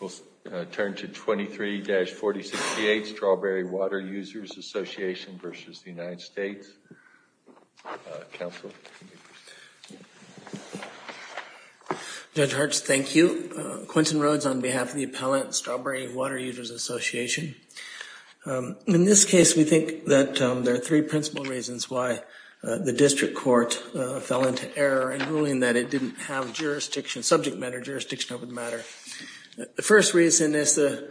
We'll turn to 23-4068, Strawberry Water Users Association v. United States. Counsel. Judge Hartz, thank you. Quinton Rhodes on behalf of the appellant, Strawberry Water Users Association. In this case, we think that there are three principal reasons why the district court fell into error in ruling that it didn't have jurisdiction, subject matter jurisdiction over the matter. The first reason is the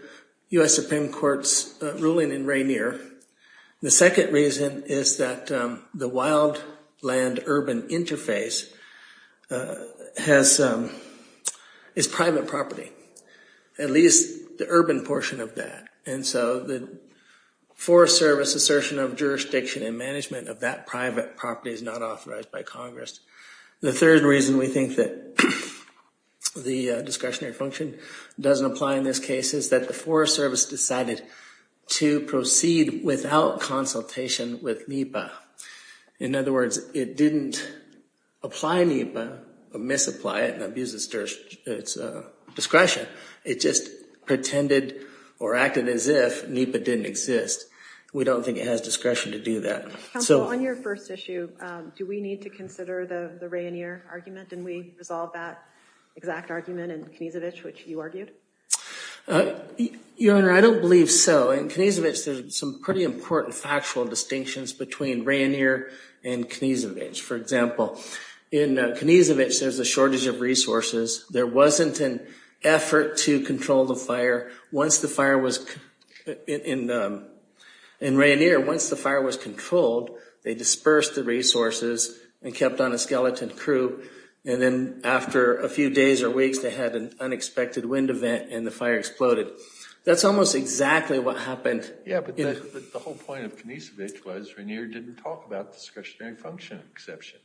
U.S. Supreme Court's ruling in Rainier. The second reason is that the wild land-urban interface has, is private property, at least the urban portion of that. And so the Forest Service assertion of jurisdiction and management of that private property is not authorized by Congress. The third reason we think that the discretionary function doesn't apply in this case is that the Forest Service decided to proceed without consultation with NEPA. In other words, it didn't apply NEPA or misapply it and abuse its discretion. It just pretended or acted as if NEPA didn't exist. We don't think it has discretion to do that. Counsel, on your first issue, do we need to consider the Rainier argument? Did we resolve that exact argument in Knezevich, which you argued? Your Honor, I don't believe so. In Knezevich, there's some pretty important factual distinctions between Rainier and Knezevich. For example, in Knezevich, there's a shortage of resources. There wasn't an effort to control the fire. In Rainier, once the fire was controlled, they dispersed the resources and kept on a skeleton crew. And then after a few days or weeks, they had an unexpected wind event and the fire exploded. That's almost exactly what happened. Yeah, but the whole point of Knezevich was Rainier didn't talk about the discretionary function exception.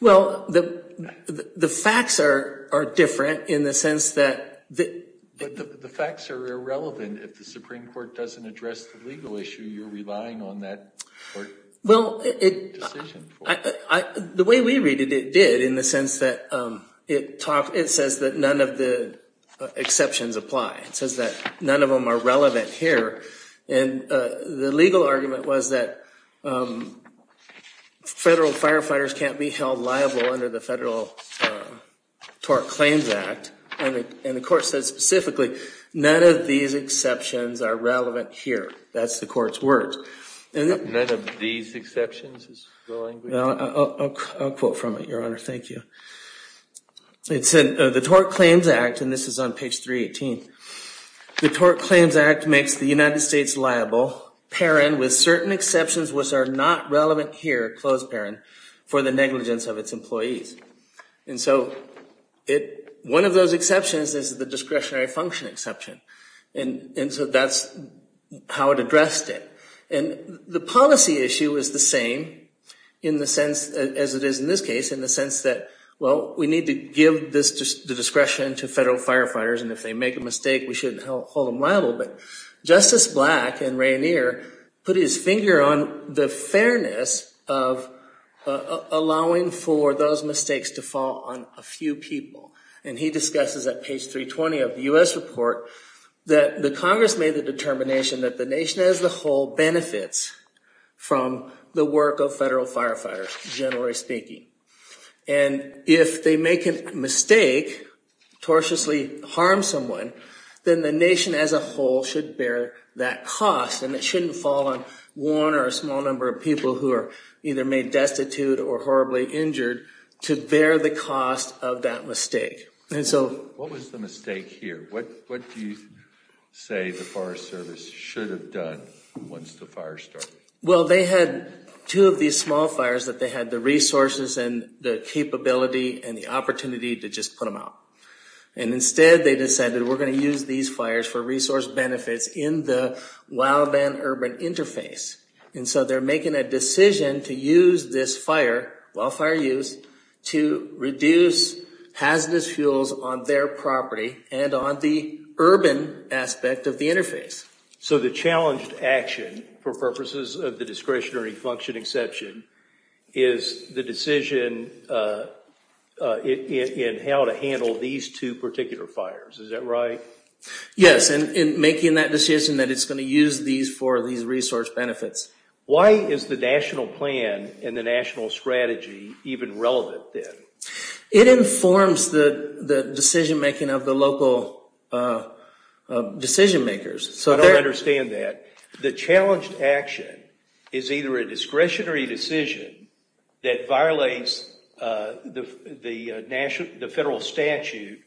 Well, the facts are different in the sense that... But the facts are irrelevant. If the Supreme Court doesn't address the legal issue, you're relying on that court decision. Well, the way we read it, it did, in the sense that it says that none of the exceptions apply. It says that none of them are relevant here. And the legal argument was that federal firefighters can't be held liable under the federal TORC Claims Act. And the court said specifically, none of these exceptions are relevant here. That's the court's words. None of these exceptions? I'll quote from it, Your Honor. Thank you. It said, the TORC Claims Act, and this is on page 318. The TORC Claims Act makes the United States liable, paren, with certain exceptions which are not relevant here, closed paren, for the negligence of its employees. And so one of those exceptions is the discretionary function exception. And so that's how it addressed it. And the policy issue is the same in the sense, as it is in this case, in the sense that, well, we need to give the discretion to federal firefighters. And if they make a mistake, we shouldn't hold them liable. But Justice Black in Rainier put his finger on the fairness of allowing for those mistakes to fall on a few people. And he discusses at page 320 of the U.S. report that the Congress made the determination that the nation as a whole benefits from the work of federal firefighters, generally speaking. And if they make a mistake, tortiously harm someone, then the nation as a whole should bear that cost. And it shouldn't fall on one or a small number of people who are either made destitute or horribly injured to bear the cost of that mistake. What was the mistake here? What do you say the Forest Service should have done once the fire started? Well, they had two of these small fires that they had the resources and the capability and the opportunity to just put them out. And instead, they decided we're going to use these fires for resource benefits in the wildland urban interface. And so they're making a decision to use this fire, wildfire use, to reduce hazardous fuels on their property and on the urban aspect of the interface. So the challenged action, for purposes of the discretionary function exception, is the decision in how to handle these two particular fires. Is that right? Yes, and making that decision that it's going to use these for these resource benefits. Why is the national plan and the national strategy even relevant then? It informs the decision making of the local decision makers. I don't understand that. The challenged action is either a discretionary decision that violates the federal statute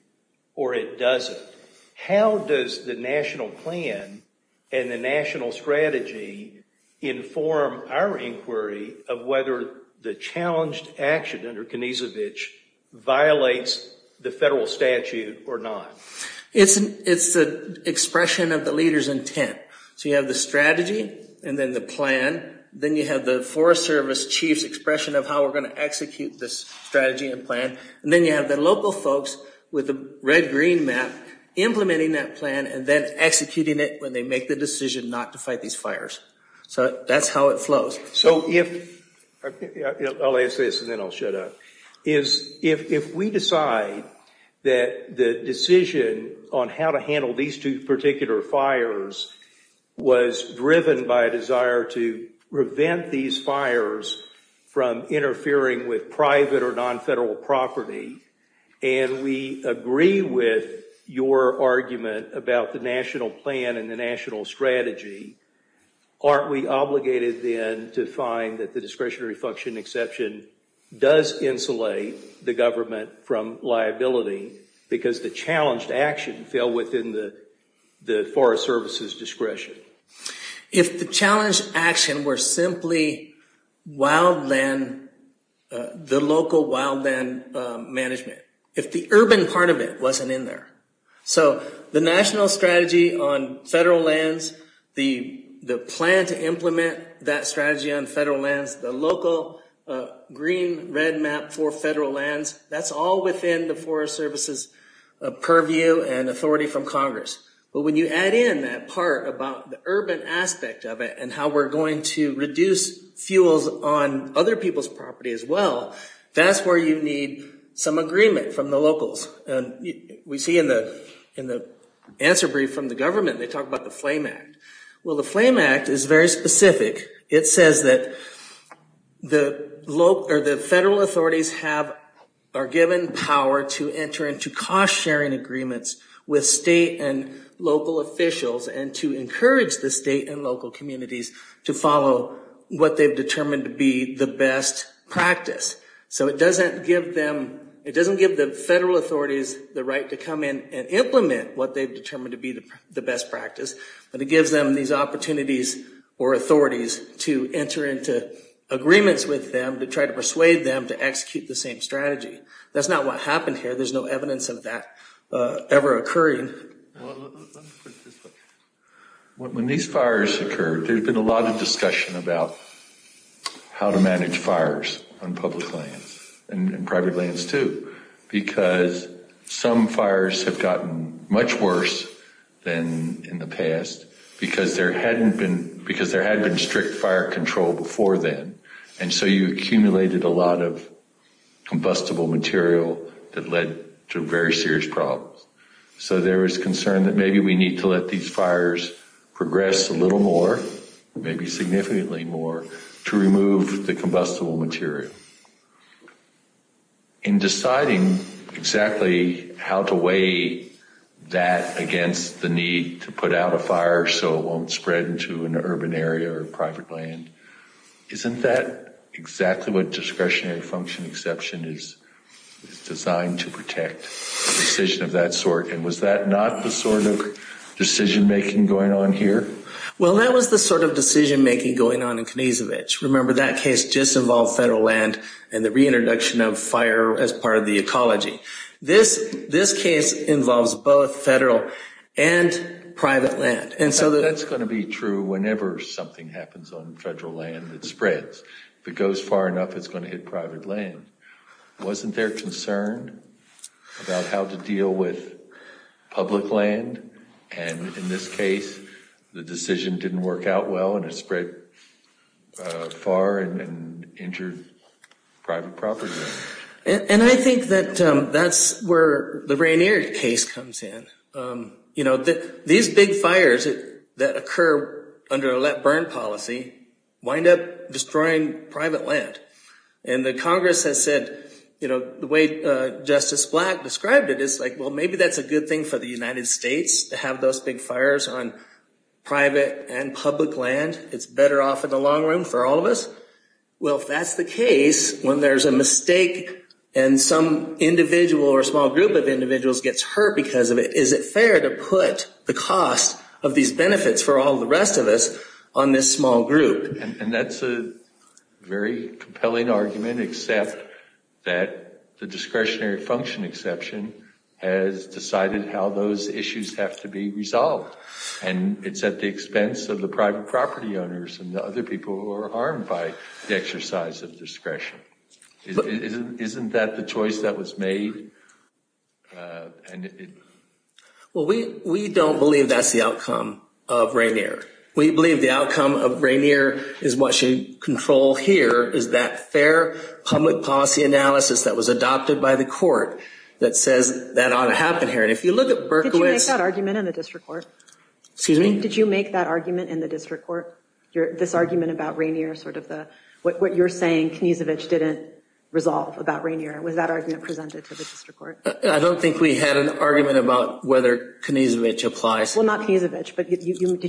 or it doesn't. How does the national plan and the national strategy inform our inquiry of whether the challenged action under Konezovich violates the federal statute or not? It's the expression of the leader's intent. So you have the strategy and then the plan. Then you have the Forest Service chief's expression of how we're going to execute this strategy and plan. And then you have the local folks with the red-green map implementing that plan and then executing it when they make the decision not to fight these fires. So that's how it flows. I'll ask this and then I'll shut up. If we decide that the decision on how to handle these two particular fires was driven by a desire to prevent these fires from interfering with private or non-federal property, and we agree with your argument about the national plan and the national strategy, aren't we obligated then to find that the discretionary function exception does insulate the government from liability because the challenged action fell within the Forest Service's discretion? If the challenged action were simply wildland, the local wildland management. If the urban part of it wasn't in there. So the national strategy on federal lands, the plan to implement that strategy on federal lands, the local green-red map for federal lands, that's all within the Forest Service's purview and authority from Congress. But when you add in that part about the urban aspect of it and how we're going to reduce fuels on other people's property as well, that's where you need some agreement from the locals. We see in the answer brief from the government, they talk about the Flame Act. Well, the Flame Act is very specific. It says that the federal authorities are given power to enter into cost-sharing agreements with state and local officials and to encourage the state and local communities to follow what they've determined to be the best practice. So it doesn't give the federal authorities the right to come in and implement what they've determined to be the best practice, but it gives them these opportunities or authorities to enter into agreements with them to try to persuade them to execute the same strategy. That's not what happened here. There's no evidence of that ever occurring. Let me put it this way. When these fires occurred, there's been a lot of discussion about how to manage fires on public lands and private lands too, because some fires have gotten much worse than in the past because there hadn't been strict fire control before then, and so you accumulated a lot of combustible material that led to very serious problems. So there was concern that maybe we need to let these fires progress a little more, maybe significantly more, to remove the combustible material. In deciding exactly how to weigh that against the need to put out a fire so it won't spread into an urban area or private land, isn't that exactly what discretionary function exception is designed to protect? A decision of that sort, and was that not the sort of decision-making going on here? Well, that was the sort of decision-making going on in Knezevich. Remember, that case just involved federal land and the reintroduction of fire as part of the ecology. This case involves both federal and private land. That's going to be true whenever something happens on federal land that spreads. If it goes far enough, it's going to hit private land. Wasn't there concern about how to deal with public land? And in this case, the decision didn't work out well and it spread far and injured private property. And I think that that's where the Rainier case comes in. These big fires that occur under a let burn policy wind up destroying private land. And the Congress has said, you know, the way Justice Black described it is like, well, maybe that's a good thing for the United States to have those big fires on private and public land. It's better off in the long run for all of us. Well, if that's the case, when there's a mistake and some individual or small group of individuals gets hurt because of it, is it fair to put the cost of these benefits for all the rest of us on this small group? And that's a very compelling argument, except that the discretionary function exception has decided how those issues have to be resolved. And it's at the expense of the private property owners and the other people who are harmed by the exercise of discretion. Isn't that the choice that was made? Well, we don't believe that's the outcome of Rainier. We believe the outcome of Rainier is what should control here is that fair public policy analysis that was adopted by the court that says that ought to happen here. Did you make that argument in the district court? Excuse me? Did you make that argument in the district court? This argument about Rainier, sort of the, what you're saying, Kniezevich didn't resolve about Rainier. Was that argument presented to the district court? I don't think we had an argument about whether Kniezevich applies. Well, not Kniezevich, but did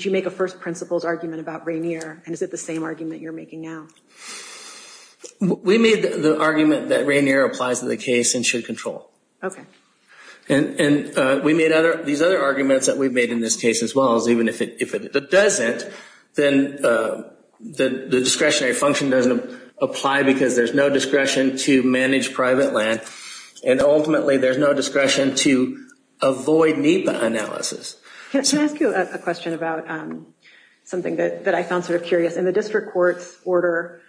you make a first principles argument about Rainier? And is it the same argument you're making now? We made the argument that Rainier applies to the case and should control. Okay. And we made these other arguments that we've made in this case as well, is even if it doesn't, then the discretionary function doesn't apply because there's no discretion to manage private land. And ultimately, there's no discretion to avoid NEPA analysis. Can I ask you a question about something that I found sort of curious? In the district court's order,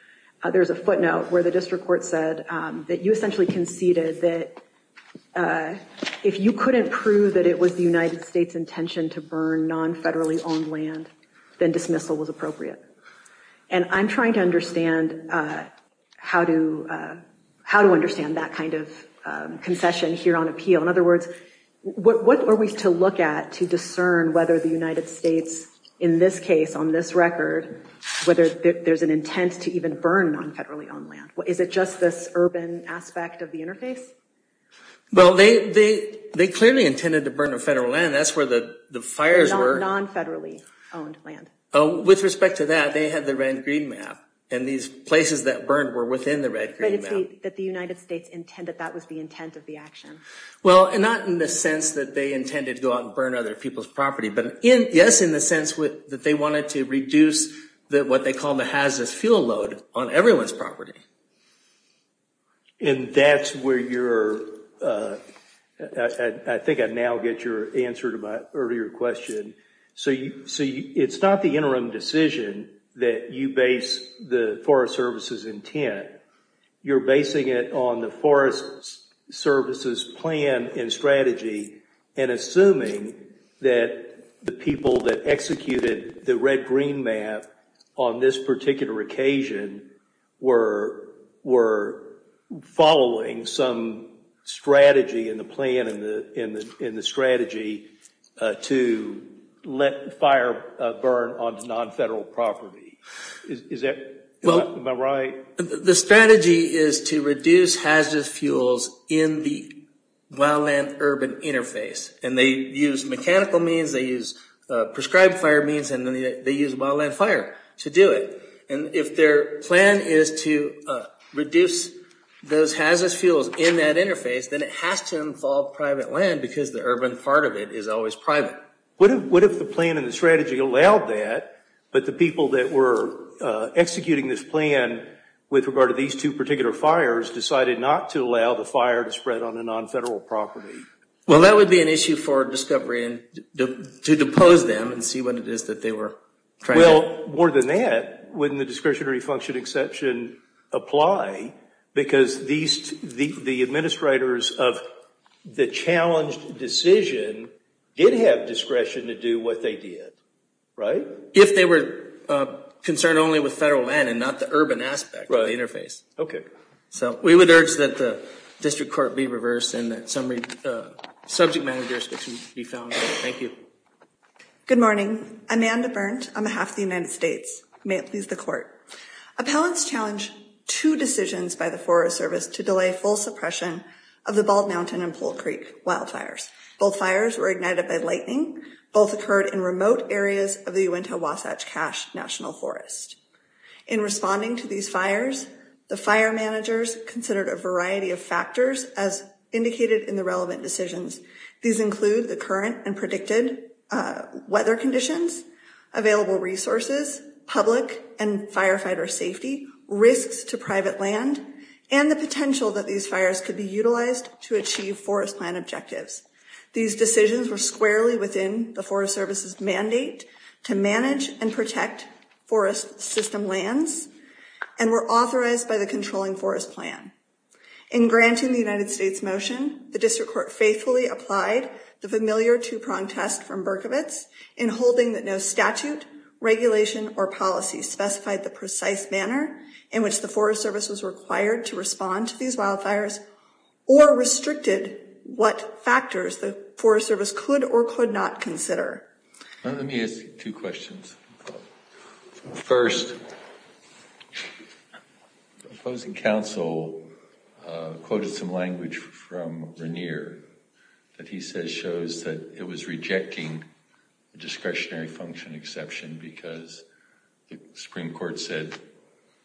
there's a footnote where the district court said that you essentially conceded that if you couldn't prove that it was the United States intention to burn non-federally owned land, then dismissal was appropriate. And I'm trying to understand how to understand that kind of concession here on appeal. In other words, what are we to look at to discern whether the United States, in this case, on this record, whether there's an intent to even burn non-federally owned land? Is it just this urban aspect of the interface? Well, they clearly intended to burn federal land. That's where the fires were. Non-federally owned land. With respect to that, they had the red-green map. And these places that burned were within the red-green map. But it's that the United States intended, that was the intent of the action. Well, and not in the sense that they intended to go out and burn other people's property. But yes, in the sense that they wanted to reduce what they call the hazardous fuel load on everyone's property. And that's where you're, I think I now get your answer to my earlier question. So it's not the interim decision that you base the Forest Service's intent. You're basing it on the Forest Service's plan and strategy and assuming that the people that executed the red-green map on this particular occasion were following some strategy in the plan and the strategy to let fire burn onto non-federal property. Am I right? The strategy is to reduce hazardous fuels in the wildland-urban interface. And they use mechanical means, they use prescribed fire means, and they use wildland fire to do it. And if their plan is to reduce those hazardous fuels in that interface, then it has to involve private land because the urban part of it is always private. What if the plan and the strategy allowed that, but the people that were executing this plan with regard to these two particular fires decided not to allow the fire to spread onto non-federal property? Well, that would be an issue for discovery and to depose them and see what it is that they were trying to do. Well, more than that, wouldn't the discretionary function exception apply? Because the administrators of the challenged decision did have discretion to do what they did, right? If they were concerned only with federal land and not the urban aspect of the interface. So we would urge that the district court be reversed and that subject managers be found. Thank you. Good morning. Amanda Berndt on behalf of the United States. May it please the court. Appellants challenged two decisions by the Forest Service to delay full suppression of the Bald Mountain and Pool Creek wildfires. Both fires were ignited by lightning. Both occurred in remote areas of the Uinta-Wasatch-Cache National Forest. In responding to these fires, the fire managers considered a variety of factors as indicated in the relevant decisions. These include the current and predicted weather conditions, available resources, public and firefighter safety, risks to private land, and the potential that these fires could be utilized to achieve forest plan objectives. These decisions were squarely within the Forest Service's mandate to manage and protect forest system lands and were authorized by the controlling forest plan. In granting the United States motion, the district court faithfully applied the familiar two-pronged test from Berkovitz in holding that no statute, regulation, or policy specified the precise manner in which the Forest Service was required to respond to these wildfires or restricted what factors the Forest Service could or could not consider. Let me ask you two questions. First, the opposing counsel quoted some language from Regnier that he says shows that it was rejecting the discretionary function exception because the Supreme Court said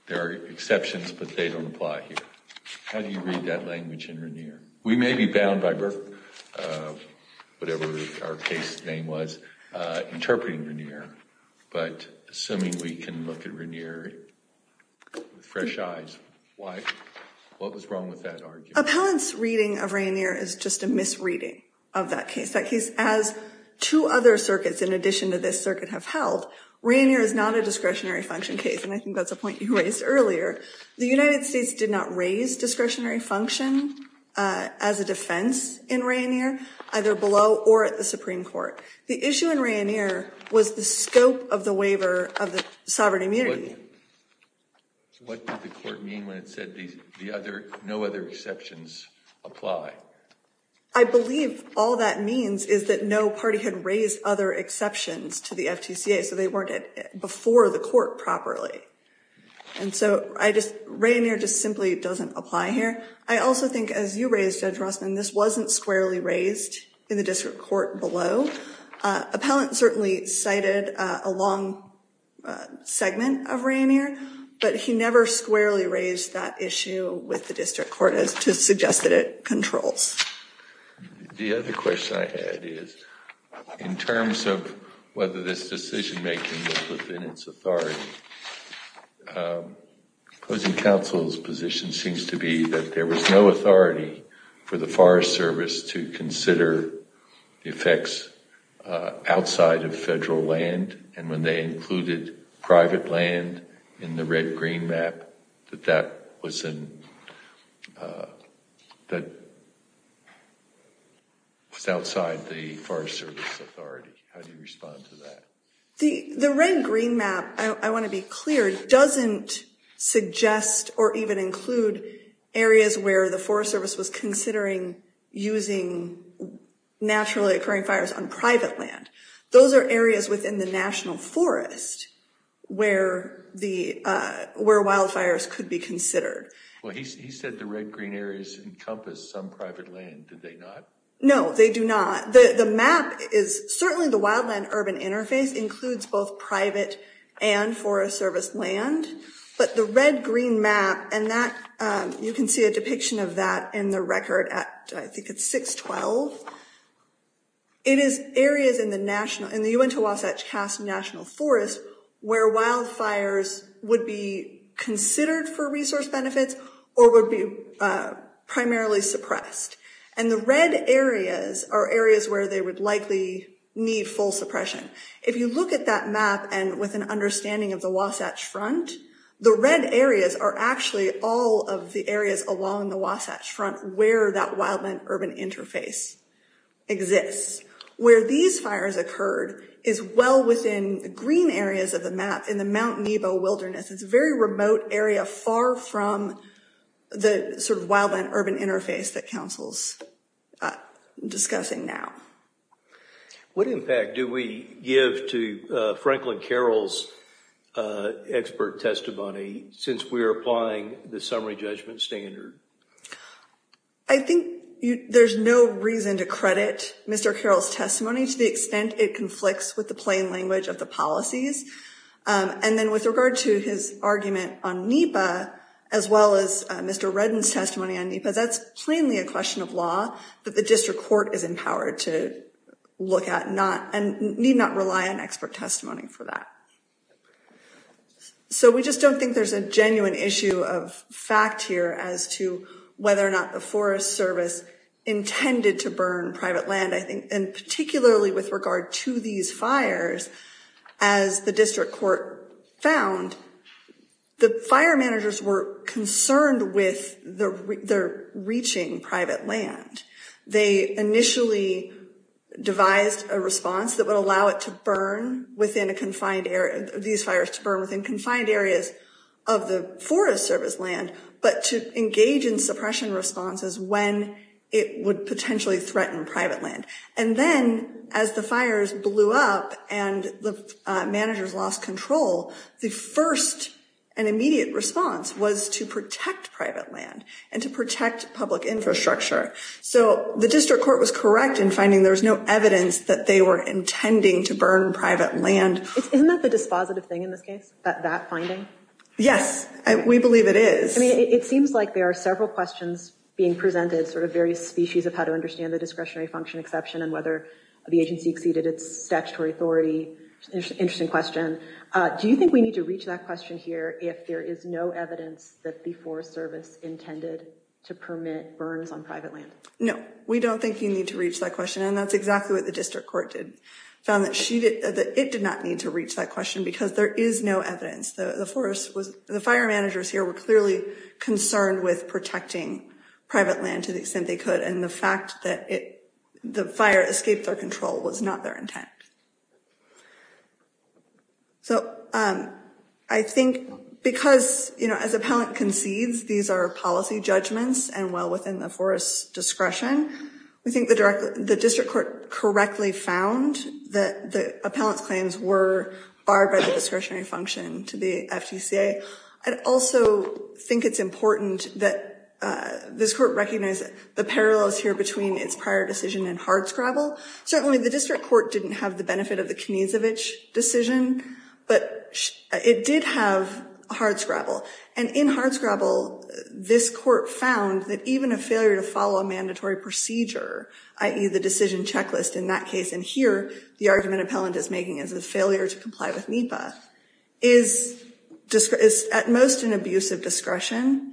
there are exceptions but they don't apply here. How do you read that language in Regnier? We may be bound by whatever our case name was interpreting Regnier but assuming we can look at Regnier with fresh eyes, what was wrong with that argument? Appellant's reading of Regnier is just a misreading of that case. That case, as two other circuits in addition to this circuit have held, Regnier is not a discretionary function case and I think that's a point you raised earlier. The United States did not raise discretionary function as a defense in Regnier either below or at the Supreme Court. The issue in Regnier was the scope of the waiver of the sovereign immunity. What did the court mean when it said no other exceptions apply? I believe all that means is that no party had raised other exceptions to the FTCA so they weren't before the court properly. Regnier just simply doesn't apply here. I also think as you raised Judge Rossman, this wasn't squarely raised in the district court below. Appellant certainly cited a long segment of Regnier but he never squarely raised that issue with the district court to suggest that it controls. The other question I had is in terms of whether this decision making was within its authority, Closing Council's position seems to be that there was no authority for the Forest Service to consider the effects outside of federal land and when they included private land in the red-green map that that was outside the Forest Service authority. How do you respond to that? The red-green map, I want to be clear, doesn't suggest or even include areas where the Forest Service was considering using naturally occurring fires on private land. Those are areas within the National Forest where wildfires could be considered. He said the red-green areas encompass some private land, did they not? No, they do not. The map is certainly the wildland-urban interface includes both private and Forest Service land, but the red-green map and that you can see a depiction of that in the record at I think it's 612. It is areas in the UN2WC National Forest where wildfires would be considered for resource benefits or would be primarily suppressed. And the red areas are areas where they would likely need full suppression. If you look at that map and with an understanding of the Wasatch Front, the red areas are actually all of the areas along the Wasatch Front where that wildland-urban interface exists. Where these fires occurred is well within the green areas of the map in the Mount Nebo wilderness. It's a very remote area far from the sort of wildland-urban interface that Council's discussing now. What impact do we give to Franklin Carroll's expert testimony since we're applying the summary judgment standard? I think there's no reason to credit Mr. Carroll's testimony to the extent it conflicts with the plain language of the policies. And then with regard to his argument on NEPA as well as Mr. Redden's testimony on NEPA, because that's plainly a question of law that the District Court is empowered to look at and need not rely on expert testimony for that. So we just don't think there's a genuine issue of fact here as to whether or not the Forest Service intended to burn private land. And particularly with regard to these fires, as the District Court found, the fire managers were concerned with their reaching private land. They initially devised a response that would allow these fires to burn within confined areas of the Forest Service land, but to engage in suppression responses when it would potentially threaten private land. And then as the fires blew up and the managers lost control, the first and immediate response was to protect private land and to protect public infrastructure. So the District Court was correct in finding there was no evidence that they were intending to burn private land. Isn't that the dispositive thing in this case, that finding? Yes, we believe it is. It seems like there are several questions being presented, sort of various species of how to understand the discretionary function exception and whether the agency exceeded its statutory authority. Interesting question. Do you think we need to reach that question here if there is no evidence that the Forest Service intended to permit burns on private land? No, we don't think you need to reach that question. And that's exactly what the District Court did, found that it did not need to reach that question because there is no evidence. The forest was, the fire managers here were clearly concerned with protecting private land to the extent they could and the fact that the fire escaped their control was not their intent. So I think because, you know, as appellant concedes these are policy judgments and well within the forest's discretion, we think the District Court correctly found that the appellant's claims were barred by the discretionary function to the FTCA. I'd also think it's important that this Court recognize the parallels here between its prior decision and hardscrabble. Certainly the District Court didn't have the benefit of the Knezevich decision, but it did have hardscrabble. And in hardscrabble, this Court found that even a failure to follow a mandatory procedure, i.e. the decision checklist in that case, and here the argument appellant is making is a failure to comply with NEPA, is at most an abuse of discretion.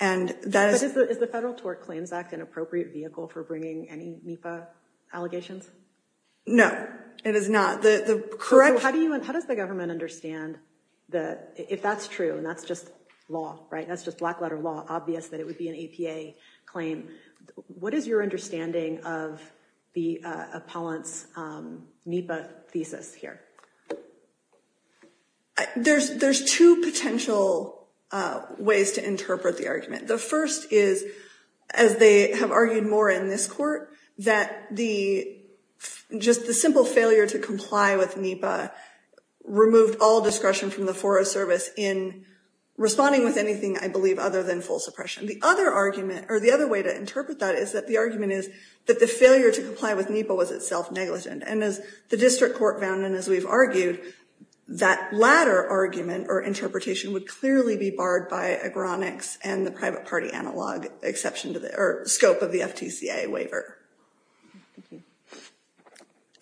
But is the Federal Tort Claims Act an appropriate vehicle for bringing any NEPA allegations? No, it is not. How does the government understand that if that's true, and that's just law, right? That's just black letter law, obvious that it would be an APA claim. What is your understanding of the appellant's NEPA thesis here? There's two potential ways to interpret the argument. The first is, as they have argued more in this Court, that just the simple failure to comply with NEPA removed all discretion from the Forest Service in responding with anything, I believe, other than full suppression. The other argument, or the other way to interpret that is that the argument is that the failure to comply with NEPA was itself negligent. And as the District Court found, and as we've argued, that latter argument or interpretation would clearly be barred by Agronics and the private party analog, exception to the scope of the FTCA waiver.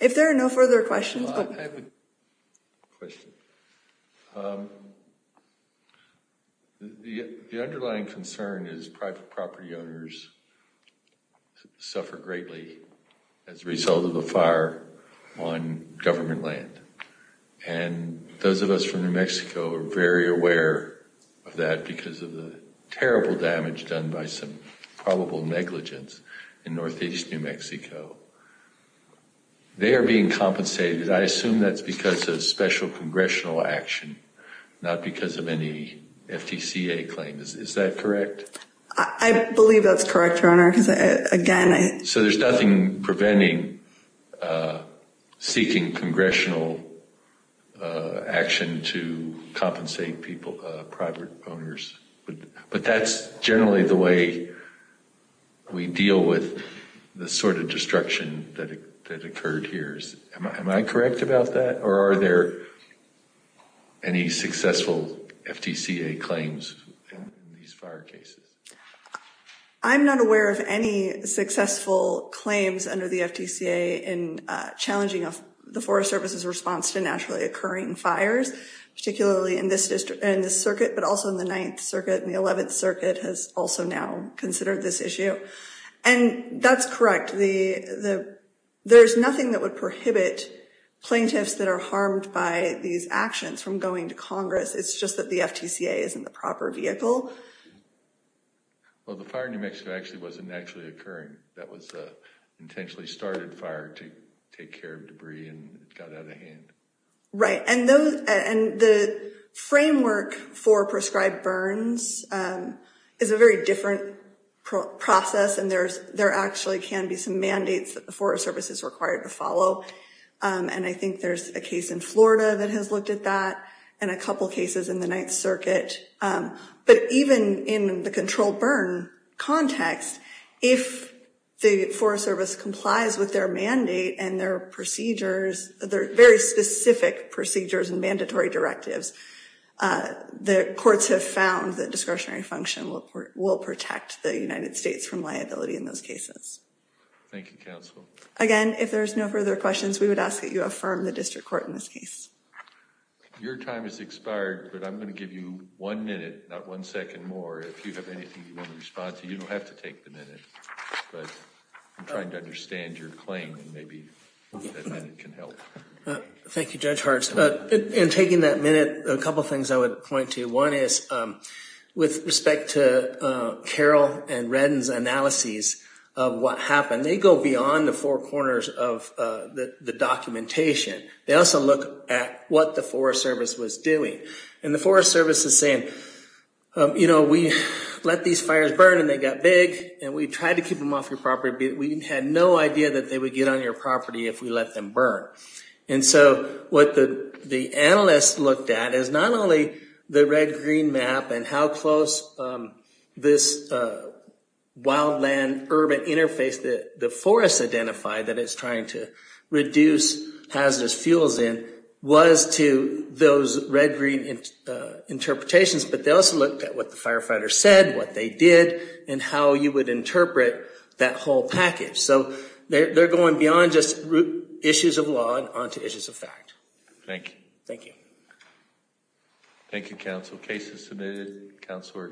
If there are no further questions... The underlying concern is private property owners suffer greatly as a result of a fire on government land. And those of us from New Mexico are very aware of that because of the terrible damage done by some probable negligence in northeast New Mexico. They are being compensated. I assume that's because of special congressional action, not because of any FTCA claims. Is that correct? I believe that's correct, Your Honor, because again... So there's nothing preventing seeking congressional action to compensate private owners. But that's generally the way we deal with the sort of destruction that occurred here. Am I correct about that, or are there any successful FTCA claims in these fire cases? I'm not aware of any successful claims under the FTCA in challenging the Forest Service's response to naturally occurring fires, particularly in this circuit, but also in the 9th Circuit and the 11th Circuit has also now considered this issue. And that's correct. There's nothing that would prohibit plaintiffs that are harmed by these actions from going to Congress. It's just that the FTCA isn't the proper vehicle. Well, the fire in New Mexico actually wasn't naturally occurring. That was an intentionally started fire to take care of debris and got out of hand. Right. And the framework for prescribed burns is a very different process, and there actually can be some mandates that the Forest Service is required to follow. And I think there's a case in Florida that has looked at that and a couple cases in the 9th Circuit. But even in the controlled burn context, if the Forest Service complies with their mandate and their procedures, their very specific procedures and mandatory directives, the courts have found that discretionary function will protect the United States from liability in those cases. Thank you, counsel. Again, if there's no further questions, we would ask that you affirm the district court in this case. Your time has expired, but I'm going to give you one minute, not one second more. If you have anything you want to respond to, you don't have to take the minute. But I'm trying to understand your claim and maybe that minute can help. Thank you, Judge Hartz. In taking that minute, a couple of things I would point to. One is with respect to Carroll and Redden's analyses of what happened, they go beyond the four corners of the documentation. They also look at what the Forest Service was doing. And the Forest Service is saying, you know, we let these fires burn and they got big. And we tried to keep them off your property, but we had no idea that they would get on your property if we let them burn. And so what the analysts looked at is not only the red-green map and how close this wildland-urban interface that the forest identified that it's trying to reduce hazardous fuels in was to those red-green interpretations, but they also looked at what the firefighters said, what they did, and how you would interpret that whole package. So they're going beyond just issues of law and onto issues of fact. Thank you. Thank you. Thank you, counsel. Case is submitted. Counselor excused.